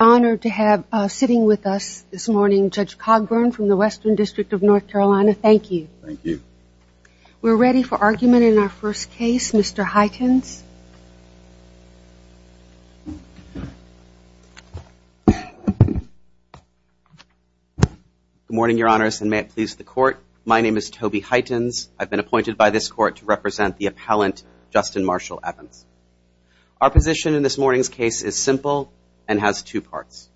Honored to have sitting with us this morning Judge Cogburn from the Western District of North Carolina. Thank you. Thank you We're ready for argument in our first case. Mr. Hytens Good morning, Your Honor's and may it please the court. My name is Toby Hytens I've been appointed by this court to represent the appellant Justin Marshall Evans Our position in this morning's case is simple and has two parts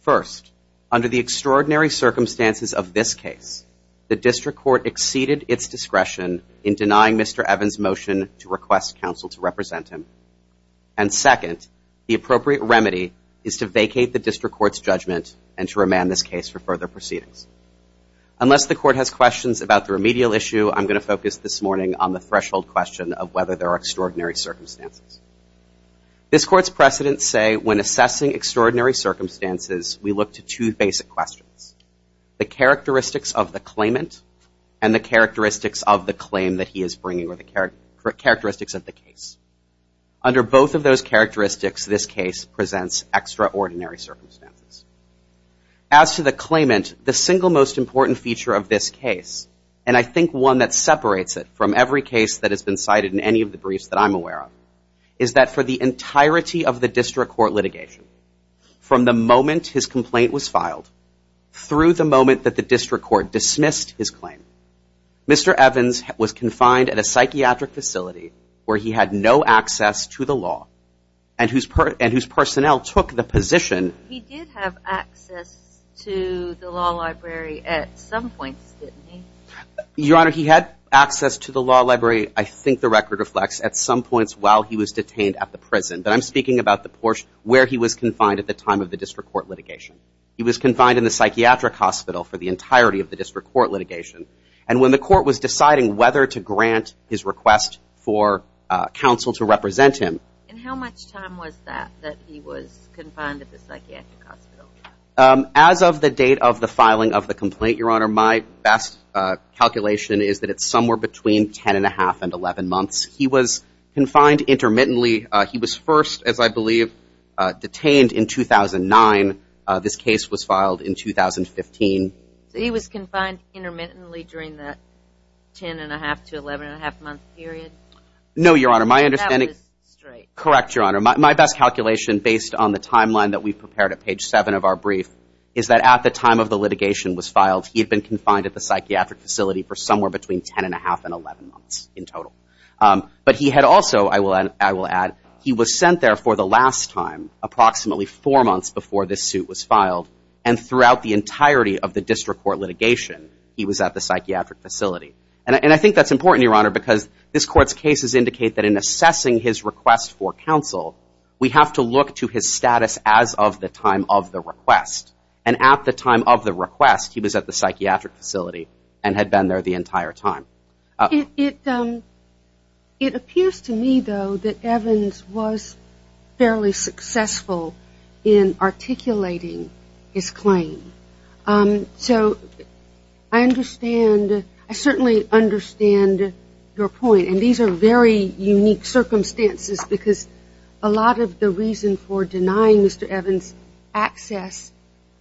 First under the extraordinary circumstances of this case the district court exceeded its discretion in denying Mr. Evans motion to request counsel to represent him and Second the appropriate remedy is to vacate the district court's judgment and to remand this case for further proceedings Unless the court has questions about the remedial issue I'm going to focus this morning on the threshold question of whether there are extraordinary circumstances This court's precedents say when assessing extraordinary circumstances. We look to two basic questions the characteristics of the claimant and the characteristics of the claim that he is bringing or the characteristics of the case under both of those characteristics this case presents extraordinary circumstances as To the claimant the single most important feature of this case And I think one that separates it from every case that has been cited in any of the briefs that I'm aware of is That for the entirety of the district court litigation From the moment his complaint was filed Through the moment that the district court dismissed his claim Mr. Evans was confined at a psychiatric facility where he had no access to the law and Whose part and whose personnel took the position? The law library at some points Your honor he had access to the law library I think the record reflects at some points while he was detained at the prison But I'm speaking about the Porsche where he was confined at the time of the district court litigation He was confined in the psychiatric hospital for the entirety of the district court litigation And when the court was deciding whether to grant his request for Counsel to represent him How much time was that that he was confined at the psychiatric hospital As of the date of the filing of the complaint your honor my best Calculation is that it's somewhere between ten and a half and eleven months. He was confined intermittently. He was first as I believe Detained in 2009 this case was filed in 2015. He was confined intermittently during that Ten and a half to eleven and a half month period no your honor my understanding Correct your honor my best calculation based on the timeline that we've prepared at page seven of our brief is that at the time of the litigation was filed he Had been confined at the psychiatric facility for somewhere between ten and a half and eleven months in total But he had also I will and I will add he was sent there for the last time Approximately four months before this suit was filed and throughout the entirety of the district court litigation He was at the psychiatric facility And I think that's important your honor because this court's cases indicate that in assessing his request for counsel We have to look to his status as of the time of the request and at the time of the request He was at the psychiatric facility and had been there the entire time it It appears to me though that Evans was fairly successful in articulating his claim so I Understand I certainly understand Your point and these are very unique circumstances because a lot of the reason for denying mr. Evans Access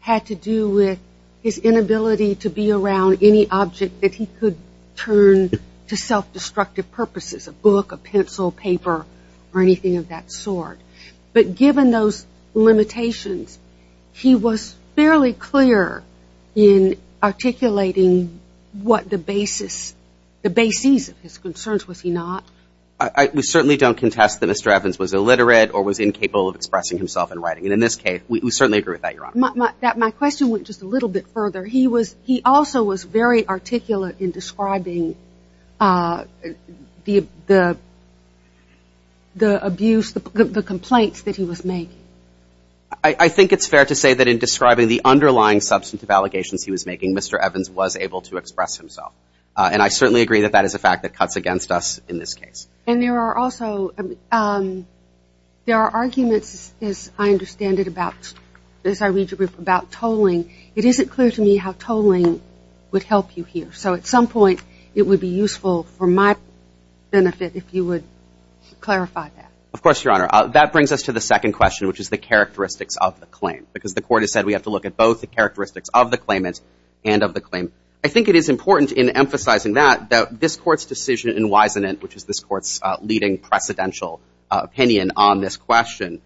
had to do with his inability to be around any object that he could turn To self-destructive purposes a book a pencil paper or anything of that sort but given those limitations he was fairly clear in Articulating what the basis the bases of his concerns was he not I We certainly don't contest that mr. Evans was illiterate or was incapable of expressing himself in writing and in this case we certainly agree with that You're on my question went just a little bit further. He was he also was very articulate in describing The The abuse the complaints that he was made I Think it's fair to say that in describing the underlying substantive allegations. He was making mr. Evans was able to express himself and I certainly agree that that is a fact that cuts against us in this case and there are also There are arguments is I understand it about this I read you about tolling it isn't clear to me how tolling would help you here So at some point it would be useful for my benefit if you would Of course your honor that brings us to the second question Which is the characteristics of the claim because the court has said we have to look at both the characteristics of the claimants and of The claim I think it is important in emphasizing that that this court's decision and wise in it Which is this court's leading precedential opinion on this question?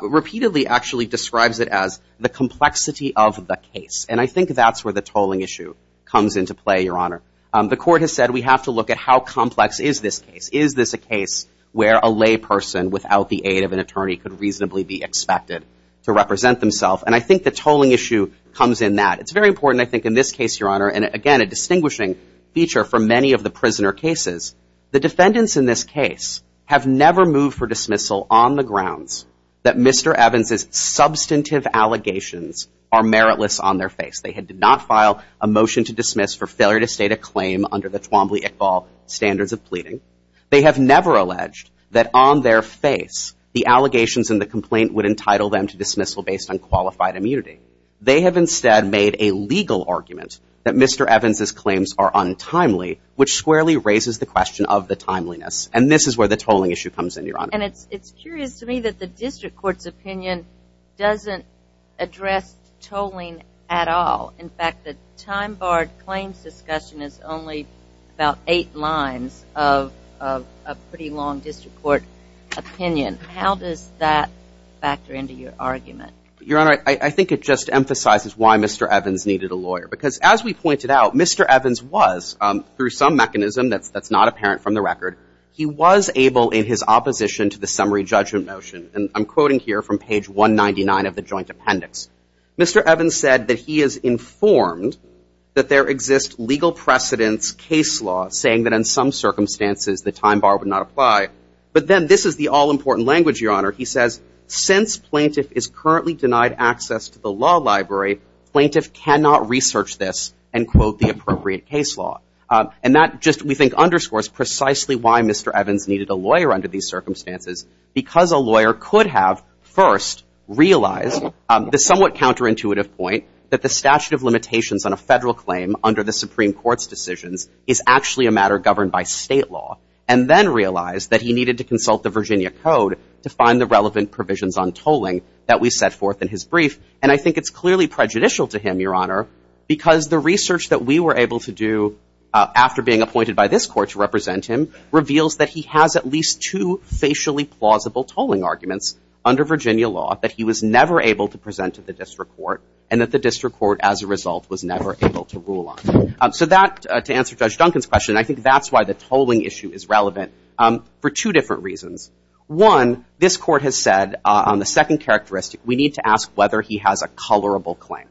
Repeatedly actually describes it as the complexity of the case and I think that's where the tolling issue Comes into play your honor the court has said we have to look at how complex is this case? Is this a case where a layperson without the aid of an attorney could reasonably be expected to represent themselves? And I think the tolling issue comes in that it's very important I think in this case your honor and again a distinguishing feature for many of the prisoner cases the defendants in this case Have never moved for dismissal on the grounds that mr. Evans's substantive allegations are meritless on their face They had did not file a motion to dismiss for failure to state a claim under the Twombly Iqbal Standards of pleading they have never alleged that on their face The allegations and the complaint would entitle them to dismissal based on qualified immunity they have instead made a legal argument that mr. Evans's claims are untimely which squarely raises the question of the timeliness And this is where the tolling issue comes in your honor, and it's it's curious to me that the district courts opinion Doesn't address Tolling at all in fact the time-barred claims discussion is only about eight lines of a pretty long district court Opinion how does that? Factor into your argument your honor. I think it just emphasizes why mr. Evans needed a lawyer because as we pointed out mr. Evans was through some mechanism that's that's not apparent from the record He was able in his opposition to the summary judgment motion, and I'm quoting here from page 199 of the joint appendix mr. Evans said that he is informed that there exists legal precedence case law saying that in some Circumstances the time bar would not apply, but then this is the all-important language your honor He says since plaintiff is currently denied access to the law library Plaintiff cannot research this and quote the appropriate case law and that just we think underscores precisely why mr. Evans needed a lawyer under these circumstances Because a lawyer could have first realized the somewhat counterintuitive point that the statute of limitations on a federal claim under the Supreme Court's decisions is Actually a matter governed by state law and then realized that he needed to consult the Virginia Code To find the relevant provisions on tolling that we set forth in his brief And I think it's clearly prejudicial to him your honor because the research that we were able to do After being appointed by this court to represent him reveals that he has at least two Facially plausible tolling arguments under Virginia law that he was never able to present to the district court and that the district court as a result Was never able to rule on so that to answer judge Duncan's question I think that's why the tolling issue is relevant for two different reasons one this court has said on the second characteristic we need to ask whether he has a colorable claim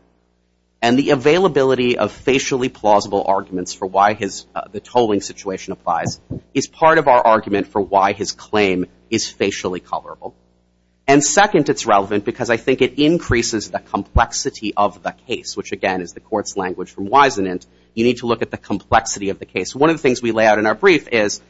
and Availability of facially plausible arguments for why his the tolling situation applies is part of our argument for why his claim is facially colorable and Second it's relevant because I think it increases the complexity of the case Which again is the court's language from wisenant? You need to look at the complexity of the case. One of the things we lay out in our brief is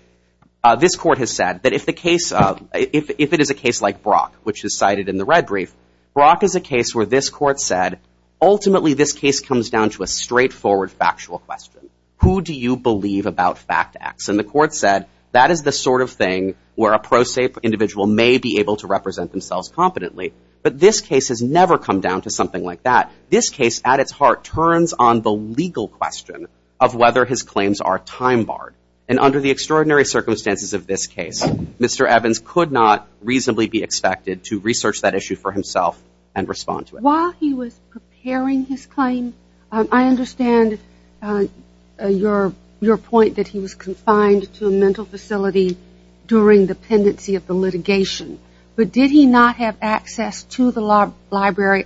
This court has said that if the case of if it is a case like Brock which is cited in the red brief Brock is a case where this court said Ultimately this case comes down to a straightforward factual question Who do you believe about fact X and the court said that is the sort of thing where a prosaic? Individual may be able to represent themselves competently But this case has never come down to something like that this case at its heart turns on the legal question of whether his claims Are time barred and under the extraordinary circumstances of this case. Mr Evans could not reasonably be expected to research that issue for himself and respond to it while he was Preparing his claim. I understand Your your point that he was confined to a mental facility During the pendency of the litigation, but did he not have access to the law library?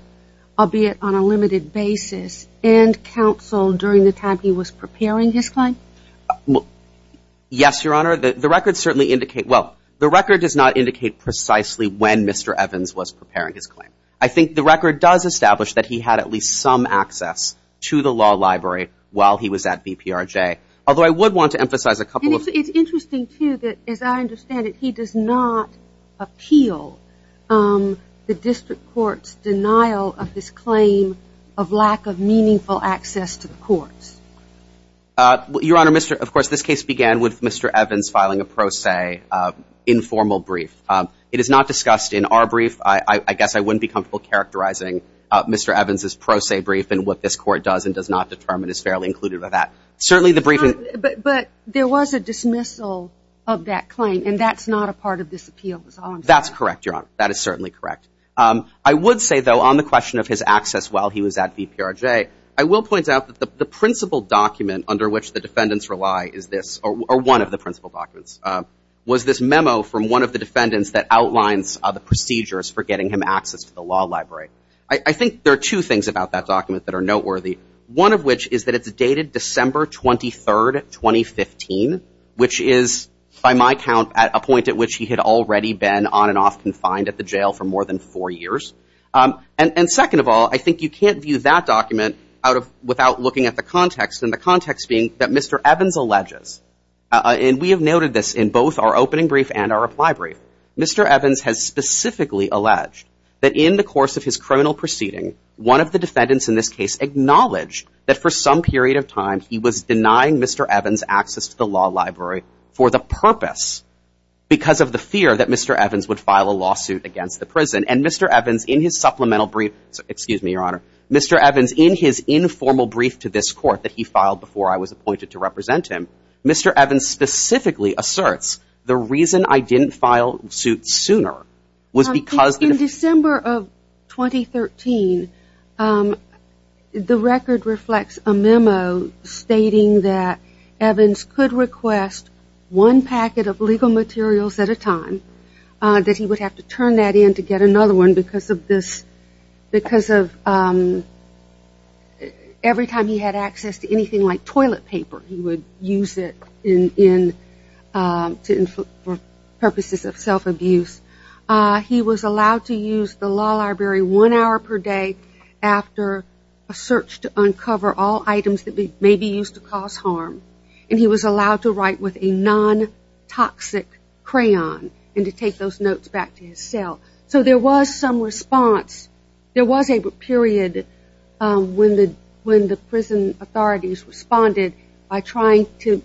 I'll be it on a limited basis and counsel during the time. He was preparing his client Yes, your honor that the record certainly indicate. Well, the record does not indicate precisely when mr Evans was preparing his claim I think the record does establish that he had at least some access to the law library while he was at VPR J, although I would want to emphasize a couple of it's interesting to you that as I understand it, he does not appeal The district courts denial of this claim of lack of meaningful access to the courts Your honor mr. Of course this case began with mr. Evans filing a pro se Informal brief it is not discussed in our brief. I I guess I wouldn't be comfortable characterizing Mr Evans is pro se brief and what this court does and does not determine is fairly included by that Certainly the briefing but there was a dismissal of that claim and that's not a part of this appeal That's correct. Your honor. That is certainly correct I would say though on the question of his access while he was at VPR J I will point out that the principal document under which the defendants rely is this or one of the principal documents Was this memo from one of the defendants that outlines the procedures for getting him access to the law library? I think there are two things about that document that are noteworthy one of which is that it's dated December 23rd 2015 which is by my count at a point at which he had already been on and off confined at the jail for more than Four years and and second of all, I think you can't view that document out of without looking at the context and the context being That mr. Evans alleges And we have noted this in both our opening brief and our reply brief Mr Evans has specifically alleged that in the course of his criminal proceeding one of the defendants in this case Acknowledged that for some period of time. He was denying. Mr. Evans access to the law library for the purpose Because of the fear that mr. Evans would file a lawsuit against the prison and mr. Evans in his supplemental brief. Excuse me, your honor Mr. Evans in his informal brief to this court that he filed before I was appointed to represent him Mr. Evans specifically asserts the reason I didn't file suit sooner was because in December of 2013 The record reflects a memo Stating that Evans could request one packet of legal materials at a time That he would have to turn that in to get another one because of this because of Every Time he had access to anything like toilet paper he would use it in to purposes of self-abuse He was allowed to use the law library one hour per day After a search to uncover all items that may be used to cause harm and he was allowed to write with a non Toxic crayon and to take those notes back to his cell. So there was some response There was a period when the when the prison authorities responded by trying to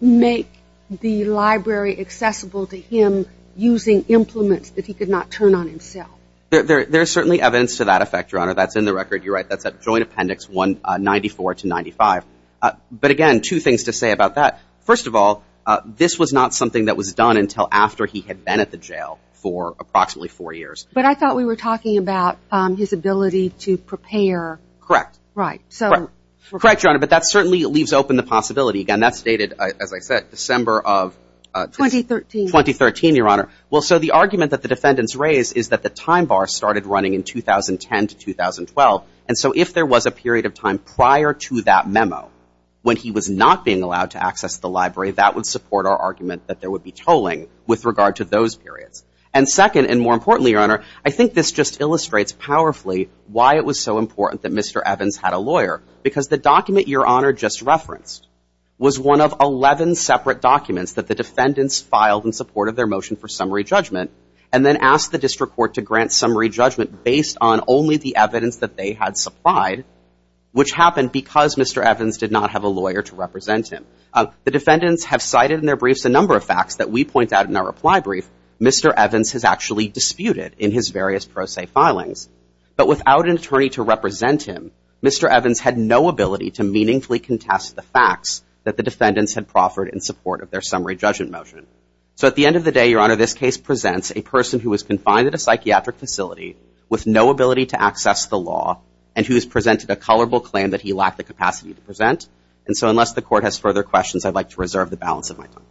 Make the library accessible to him using implements that he could not turn on himself There's certainly evidence to that effect your honor. That's in the record. You're right. That's a joint appendix 194 295 But again two things to say about that First of all, this was not something that was done until after he had been at the jail for approximately four years But I thought we were talking about his ability to prepare correct, right? So we're correct your honor, but that certainly leaves open the possibility again that's dated as I said December of 2013 2013 your honor Well, so the argument that the defendants raised is that the time bar started running in 2010 to 2012 And so if there was a period of time prior to that memo When he was not being allowed to access the library that would support our argument that there would be tolling with regard to those periods And second and more importantly your honor. I think this just illustrates powerfully why it was so important that mr Evans had a lawyer because the document your honor just referenced was one of 11 separate documents that the defendants filed in support of their motion for summary judgment and Then asked the district court to grant summary judgment based on only the evidence that they had supplied Which happened because mr Evans did not have a lawyer to represent him The defendants have cited in their briefs a number of facts that we point out in our reply brief Mr. Evans has actually disputed in his various pro se filings, but without an attorney to represent him. Mr Evans had no ability to meaningfully contest the facts that the defendants had proffered in support of their summary judgment motion So at the end of the day your honor this case presents a person who was confined at a psychiatric Facility with no ability to access the law and who has presented a colorable claim that he lacked the capacity to present And so unless the court has further questions, I'd like to reserve the balance of my time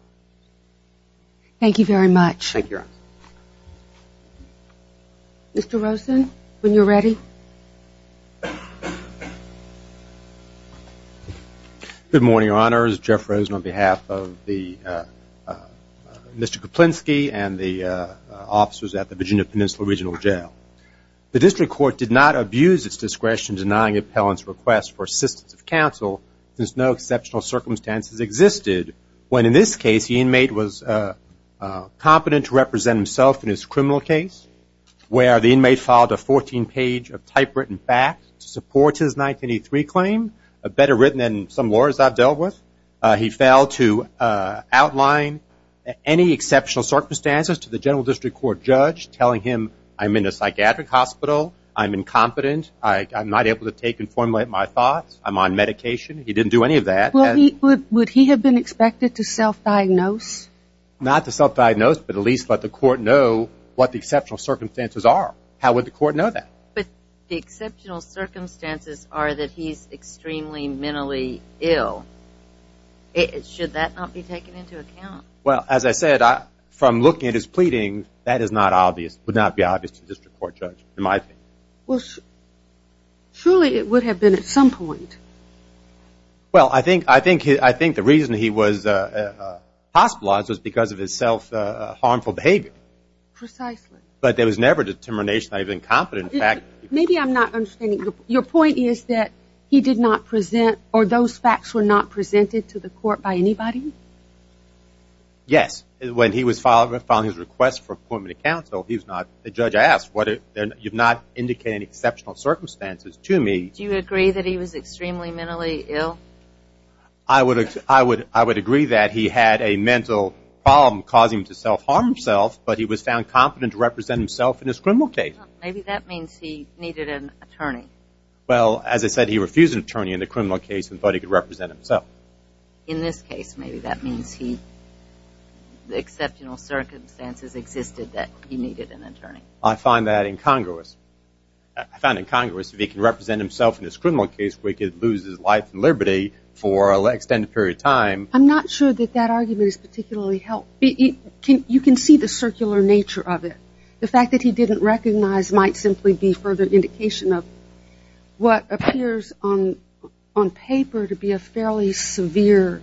Thank you very much, thank you Mr. Rosen when you're ready Good morning honors Jeff Rosen on behalf of the Mr. Koplinsky and the officers at the Virginia Peninsula Regional Jail The district court did not abuse its discretion denying appellants request for assistance of counsel There's no exceptional circumstances existed when in this case the inmate was competent to represent himself in his criminal case Where the inmate filed a 14 page of typewritten facts to support his 1983 claim a better written than some lawyers I've dealt with he failed to outline Any exceptional circumstances to the general district court judge telling him I'm in a psychiatric hospital. I'm incompetent I'm not able to take and formulate my thoughts. I'm on medication. He didn't do any of that Would he have been expected to self-diagnose? Not to self-diagnose, but at least let the court know what the exceptional circumstances are. How would the court know that but the exceptional? Circumstances are that he's extremely mentally ill It should that not be taken into account Well, as I said, I from looking at his pleading that is not obvious would not be obvious to district court judge in my opinion well Surely it would have been at some point Well, I think I think he I think the reason he was Hospitalized was because of his self-harmful behavior But there was never determination. I've been competent back Maybe I'm not understanding your point is that he did not present or those facts were not presented to the court by anybody Yes, when he was followed up on his request for appointment of counsel He's not the judge. I asked what it then you've not indicated exceptional circumstances to me Do you agree that he was extremely mentally ill? I? Would I would I would agree that he had a mental problem causing to self-harm himself? But he was found competent to represent himself in this criminal case. Maybe that means he needed an attorney Well, as I said, he refused an attorney in the criminal case and thought he could represent himself in this case. Maybe that means he The exceptional circumstances existed that he needed an attorney I find that incongruous I Found in Congress if he can represent himself in this criminal case, we could lose his life and liberty for a extended period of time I'm not sure that that argument is particularly help He can't you can see the circular nature of it the fact that he didn't recognize might simply be further indication of What appears on on paper to be a fairly severe?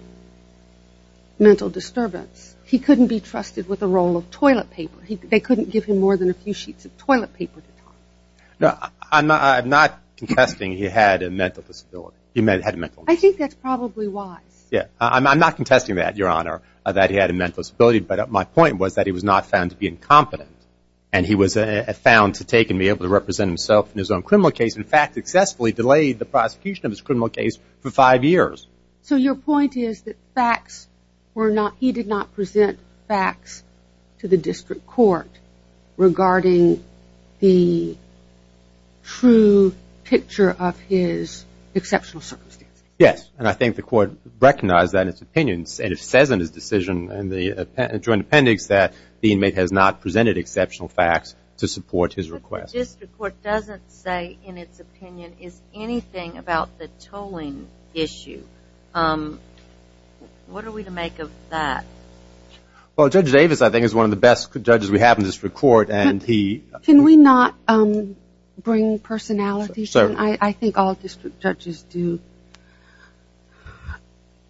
Mental disturbance he couldn't be trusted with a roll of toilet paper. They couldn't give him more than a few sheets of toilet paper No, I'm not Contesting he had a mental disability. He may have met. I think that's probably why yeah I'm not contesting that your honor that he had a mental disability but at my point was that he was not found to be incompetent and He was a found to take and be able to represent himself in his own criminal case In fact successfully delayed the prosecution of his criminal case for five years So your point is that facts were not he did not present facts to the district court regarding the true picture of his Exceptional circumstance. Yes and I think the court recognized that its opinions and it says in his decision and the Joint appendix that the inmate has not presented exceptional facts to support his request This report doesn't say in its opinion is anything about the tolling issue um What are we to make of that? Well judge Davis, I think is one of the best judges we have in this record and he can we not Bring personalities. I think all district judges do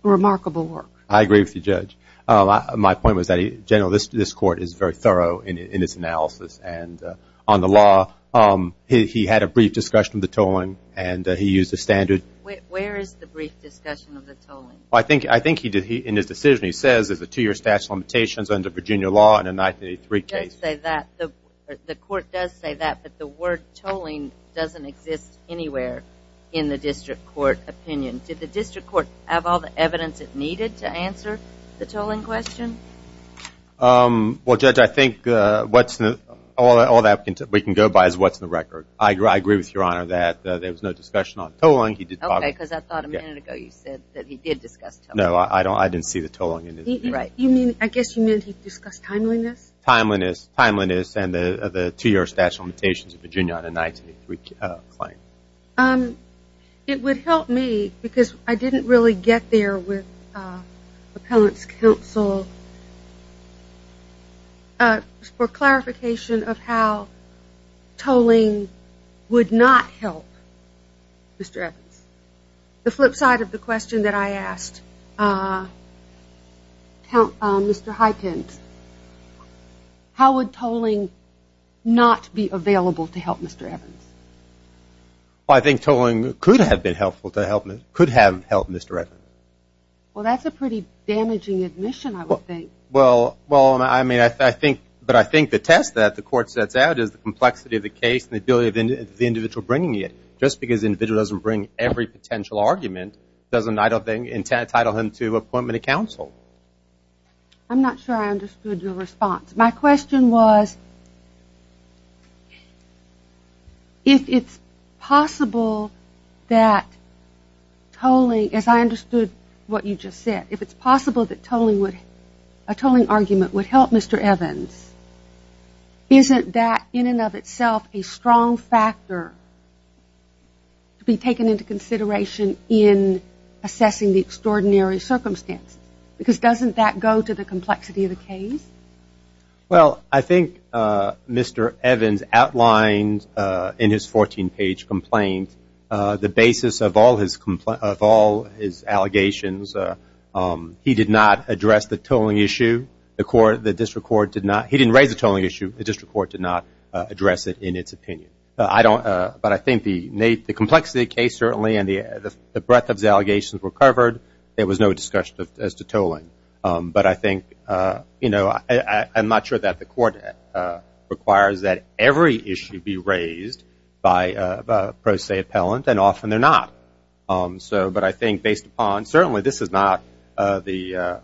Remarkable work I agree with you judge My point was that he generalist this court is very thorough in its analysis and on the law Um, he had a brief discussion of the tolling and he used a standard I think I think he did he in his decision He says is a two-year statute of limitations under Virginia law in a 1983 case They that the court does say that but the word tolling doesn't exist anywhere in the district court Opinion did the district court have all the evidence it needed to answer the tolling question Well judge, I think what's the all that all that we can go by is what's the record? I agree. I agree with your honor that there was no discussion on tolling he did No, I don't I didn't see the tolling and right you mean I guess you meant he discussed timeliness timeliness timeliness and the two-year statute of limitations of Virginia on a 1983 claim It would help me because I didn't really get there with appellants counsel For clarification of how tolling would not help Mr. Evans The flip side of the question that I asked Count mr. Hykins How would tolling not be available to help mr. Evans I Think tolling could have been helpful to help me could have helped. Mr. Evan. Well, that's a pretty damaging admission I would think well well I mean I think but I think the test that the court sets out is the complexity of the case the ability of the individual bringing it Just because individual doesn't bring every potential argument doesn't I don't think intent title him to appointment of counsel I'm not sure. I understood your response. My question was If it's possible that Tolling as I understood what you just said if it's possible that tolling would a tolling argument would help. Mr. Evans Isn't that in and of itself a strong factor? to be taken into consideration in Assessing the extraordinary circumstance because doesn't that go to the complexity of the case? Well, I think Mr. Evans outlined in his 14-page complaint The basis of all his complaint of all his allegations He did not address the tolling issue the court the district court did not he didn't raise the tolling issue The district court did not address it in its opinion I don't but I think the Nate the complexity case certainly and the the breadth of the allegations were covered There was no discussion as to tolling but I think you know, I'm not sure that the court requires that every issue be raised by Pro se appellant and often they're not so but I think based upon certainly this is not the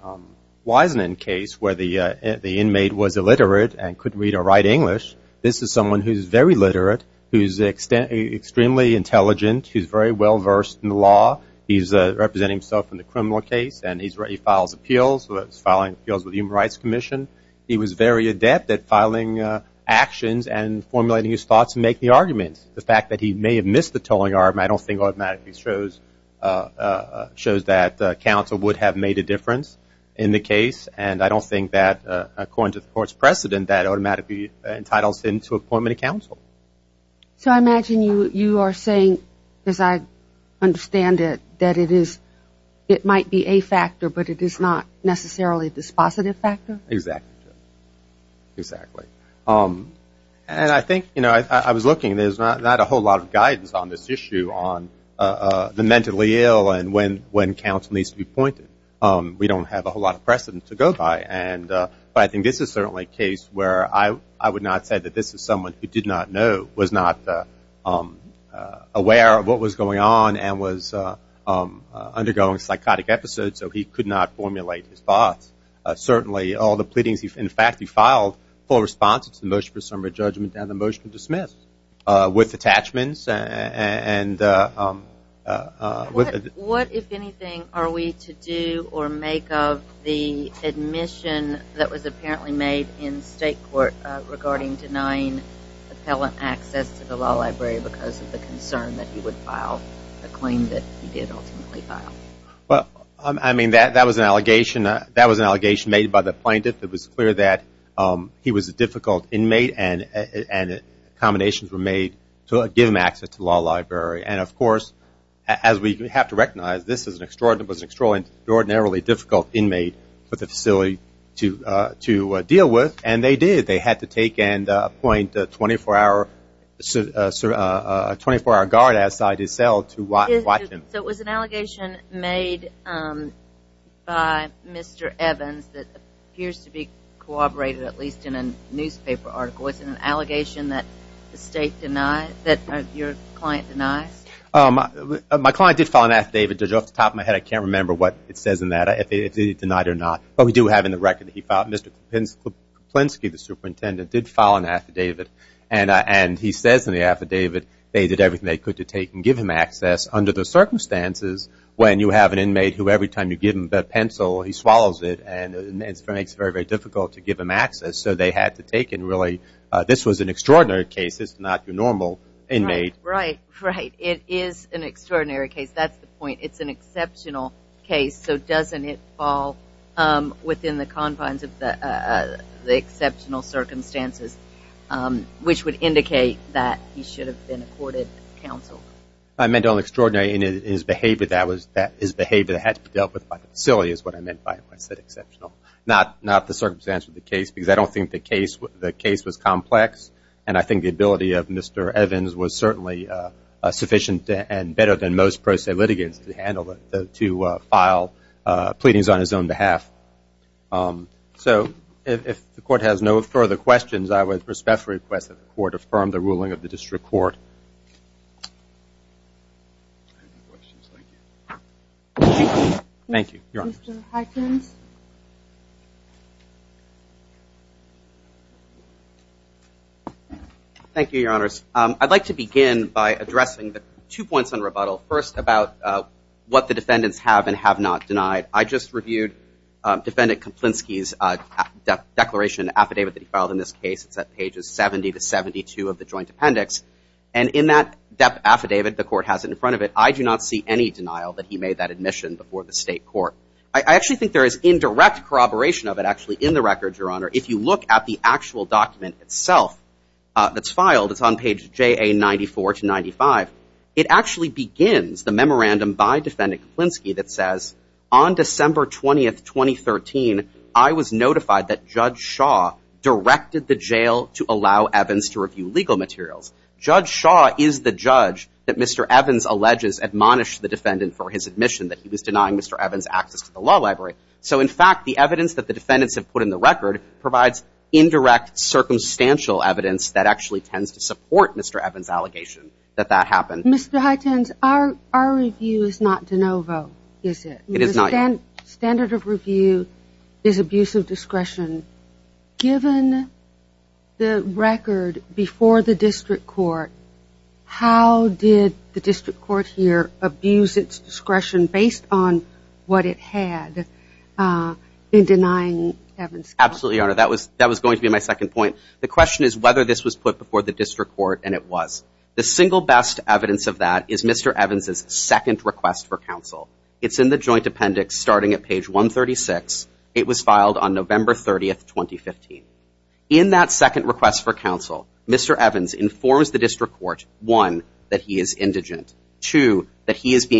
Wiseman case where the the inmate was illiterate and couldn't read or write English This is someone who's very literate who's extent extremely intelligent. He's very well versed in the law He's representing himself in the criminal case and he's ready files appeals was filing appeals with Human Rights Commission He was very adept at filing Actions and formulating his thoughts and make the arguments the fact that he may have missed the tolling arm. I don't think automatically shows That council would have made a difference in the case and I don't think that According to the court's precedent that automatically entitles him to appointment of counsel so I imagine you you are saying as I Understand it that it is it might be a factor, but it is not necessarily this positive factor. Exactly Exactly. Um, and I think you know, I was looking there's not a whole lot of guidance on this issue on The mentally ill and when when counsel needs to be pointed um we don't have a whole lot of precedent to go by and But I think this is certainly a case where I I would not say that this is someone who did not know was not Aware of what was going on and was Undergoing psychotic episodes so he could not formulate his thoughts Certainly all the pleadings. He's in fact, he filed full response to the motion for summary judgment down the motion dismissed with attachments and With what if anything are we to do or make of the Admission that was apparently made in state court regarding denying Appellant access to the law library because of the concern that he would file a claim that he did ultimately file Well, I mean that that was an allegation that was an allegation made by the plaintiff. It was clear that he was a difficult inmate and and Accommodations were made to give him access to law library And of course as we have to recognize this is an extraordinary was extraordinarily difficult inmate But the facility to to deal with and they did they had to take and point 24-hour sir 24-hour guard outside his cell to watch him. So it was an allegation made By mr. Evans that appears to be corroborated at least in a newspaper article Allegation that the state denied that your client denies My client did file an affidavit just off the top of my head I can't remember what it says in that if he denied or not, but we do have in the record that he thought mr Pinski the superintendent did file an affidavit and I and he says in the affidavit They did everything they could to take and give him access under the circumstances When you have an inmate who every time you give him that pencil He swallows it and it's very very difficult to give him access So they had to take and really this was an extraordinary case. It's not your normal inmate, right, right? It is an extraordinary case. That's the point. It's an exceptional case. So doesn't it fall? within the confines of the exceptional circumstances Which would indicate that he should have been accorded counsel I meant all extraordinary in his behavior that was that his behavior had to be dealt with The case the case was complex and I think the ability of mr. Evans was certainly Sufficient and better than most pro se litigants to handle it to file pleadings on his own behalf So if the court has no further questions, I would respectfully request that the court affirm the ruling of the district court Thank you Thank You your honors, I'd like to begin by addressing the two points on rebuttal first about What the defendants have and have not denied I just reviewed defendant Komplinsky's Declaration affidavit that he filed in this case It's at pages 70 to 72 of the joint appendix and in that depth affidavit the court has it in front of it I do not see any denial that he made that admission before the state court I actually think there is indirect Corroboration of it actually in the record your honor if you look at the actual document itself That's filed. It's on page j a 94 to 95 It actually begins the memorandum by defendant Komplinsky that says on December 20th 2013 I was notified that judge Shaw Directed the jail to allow Evans to review legal materials judge Shaw is the judge that mr Evans alleges admonished the defendant for his admission that he was denying. Mr. Evans access to the law library So in fact the evidence that the defendants have put in the record provides indirect Circumstantial evidence that actually tends to support. Mr. Evans allegation that that happened. Mr Highton's our our review is not de novo. Is it it is not and standard of review is abuse of discretion given the record before the district court How did the district court here abuse its discretion based on what it had? In denying Evans absolutely honor that was that was going to be my second point The question is whether this was put before the district court and it was the single best evidence of that is mr Evans's second request for counsel. It's in the joint appendix starting at page 136 It was filed on November 30th 2015 in that second request for counsel. Mr Evans informs the district court one that he is indigent to that He has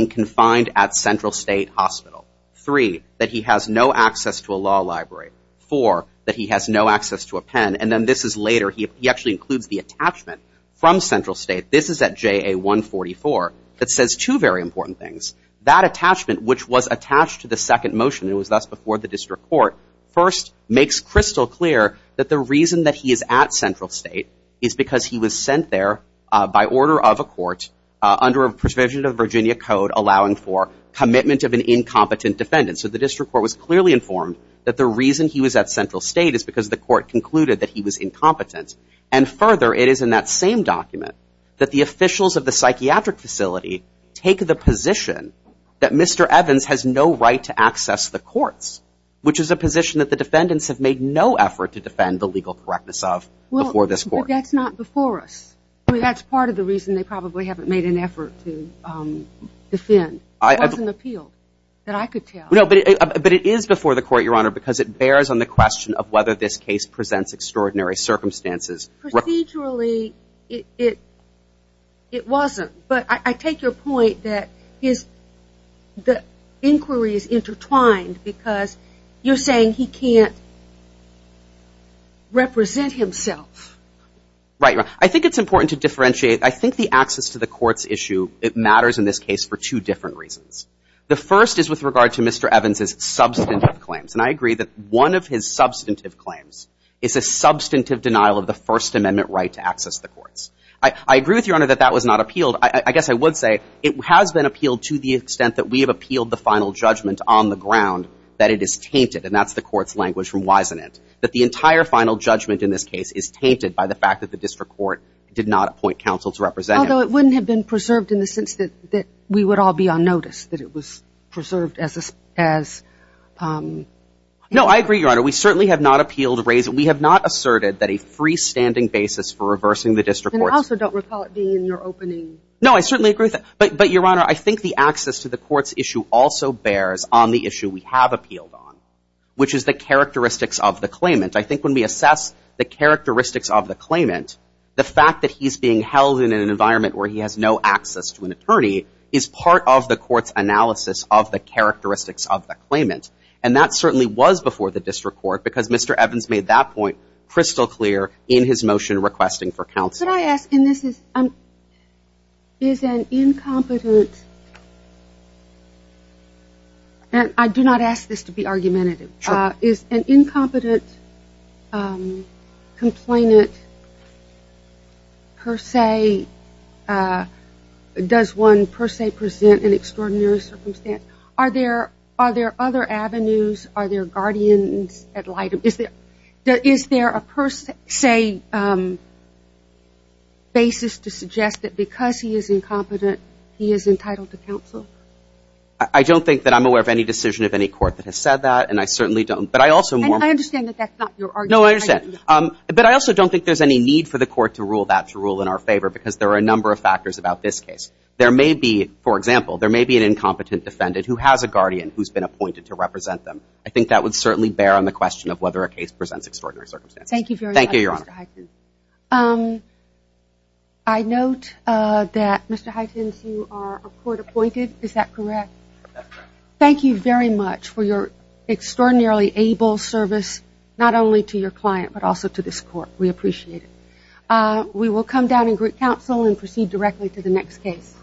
no access to a law library for that. He has no access to a pen and then this is later He actually includes the attachment from central state This is at JA 144 that says two very important things that attachment which was attached to the second motion It was thus before the district court first makes crystal clear that the reason that he is at central state is because he was sent There by order of a court under a provision of Virginia Code allowing for commitment of an incompetent defendant so the district court was clearly informed that the reason he was at central state is because the court concluded that he was Incompetent and further it is in that same document that the officials of the psychiatric facility take the position That mr Evans has no right to access the courts Which is a position that the defendants have made no effort to defend the legal correctness of before this court That's not before us. I mean, that's part of the reason they probably haven't made an effort to Defend I have an appeal that I could tell no But it is before the court your honor because it bears on the question of whether this case presents extraordinary circumstances procedurally it It wasn't but I take your point that his The inquiry is intertwined because you're saying he can't Represent himself Right, I think it's important to differentiate I think the access to the court's issue It matters in this case for two different reasons. The first is with regard to mr Evans's substantive claims and I agree that one of his substantive claims is a Substantive denial of the First Amendment right to access the courts. I I agree with your honor that that was not appealed I guess I would say it has been appealed to the extent that we have appealed the final judgment on the ground That it is tainted and that's the court's language from wisen it that the entire final judgment in this case is tainted by the fact That the district court did not appoint counsel to represent Oh, it wouldn't have been preserved in the sense that that we would all be on notice that it was preserved as as No, I agree your honor we certainly have not appealed to raise it We have not asserted that a freestanding basis for reversing the district I also don't recall it being in your opening. No, I certainly agree that but but your honor I think the access to the court's issue also bears on the issue. We have appealed on which is the characteristics of the claimant I think when we assess the characteristics of the claimant the fact that he's being held in an environment where he has no access to an attorney is part of the court's analysis of the Characteristics of the claimant and that certainly was before the district court because mr Evans made that point crystal clear in his motion requesting for counsel. Yes, and this is um Is an incompetent And I do not ask this to be argumentative is an incompetent Complainant Per se Does one per se present an extraordinary circumstance are there are there other avenues are there guardians At light of is there that is there a person say? Basis to suggest that because he is incompetent. He is entitled to counsel. I Don't think that I'm aware of any decision of any court that has said that and I certainly don't but I also more No, I said But I also don't think there's any need for the court to rule that to rule in our favor because there are a number of Factors about this case there may be for example There may be an incompetent defendant who has a guardian who's been appointed to represent them I think that would certainly bear on the question of whether a case presents extraordinary circumstances. Thank you. Thank you your honor I Note that mr. Huygens you are court-appointed. Is that correct? Thank you very much for your Extraordinarily able service not only to your client, but also to this court. We appreciate it We will come down in group counsel and proceed directly to the next case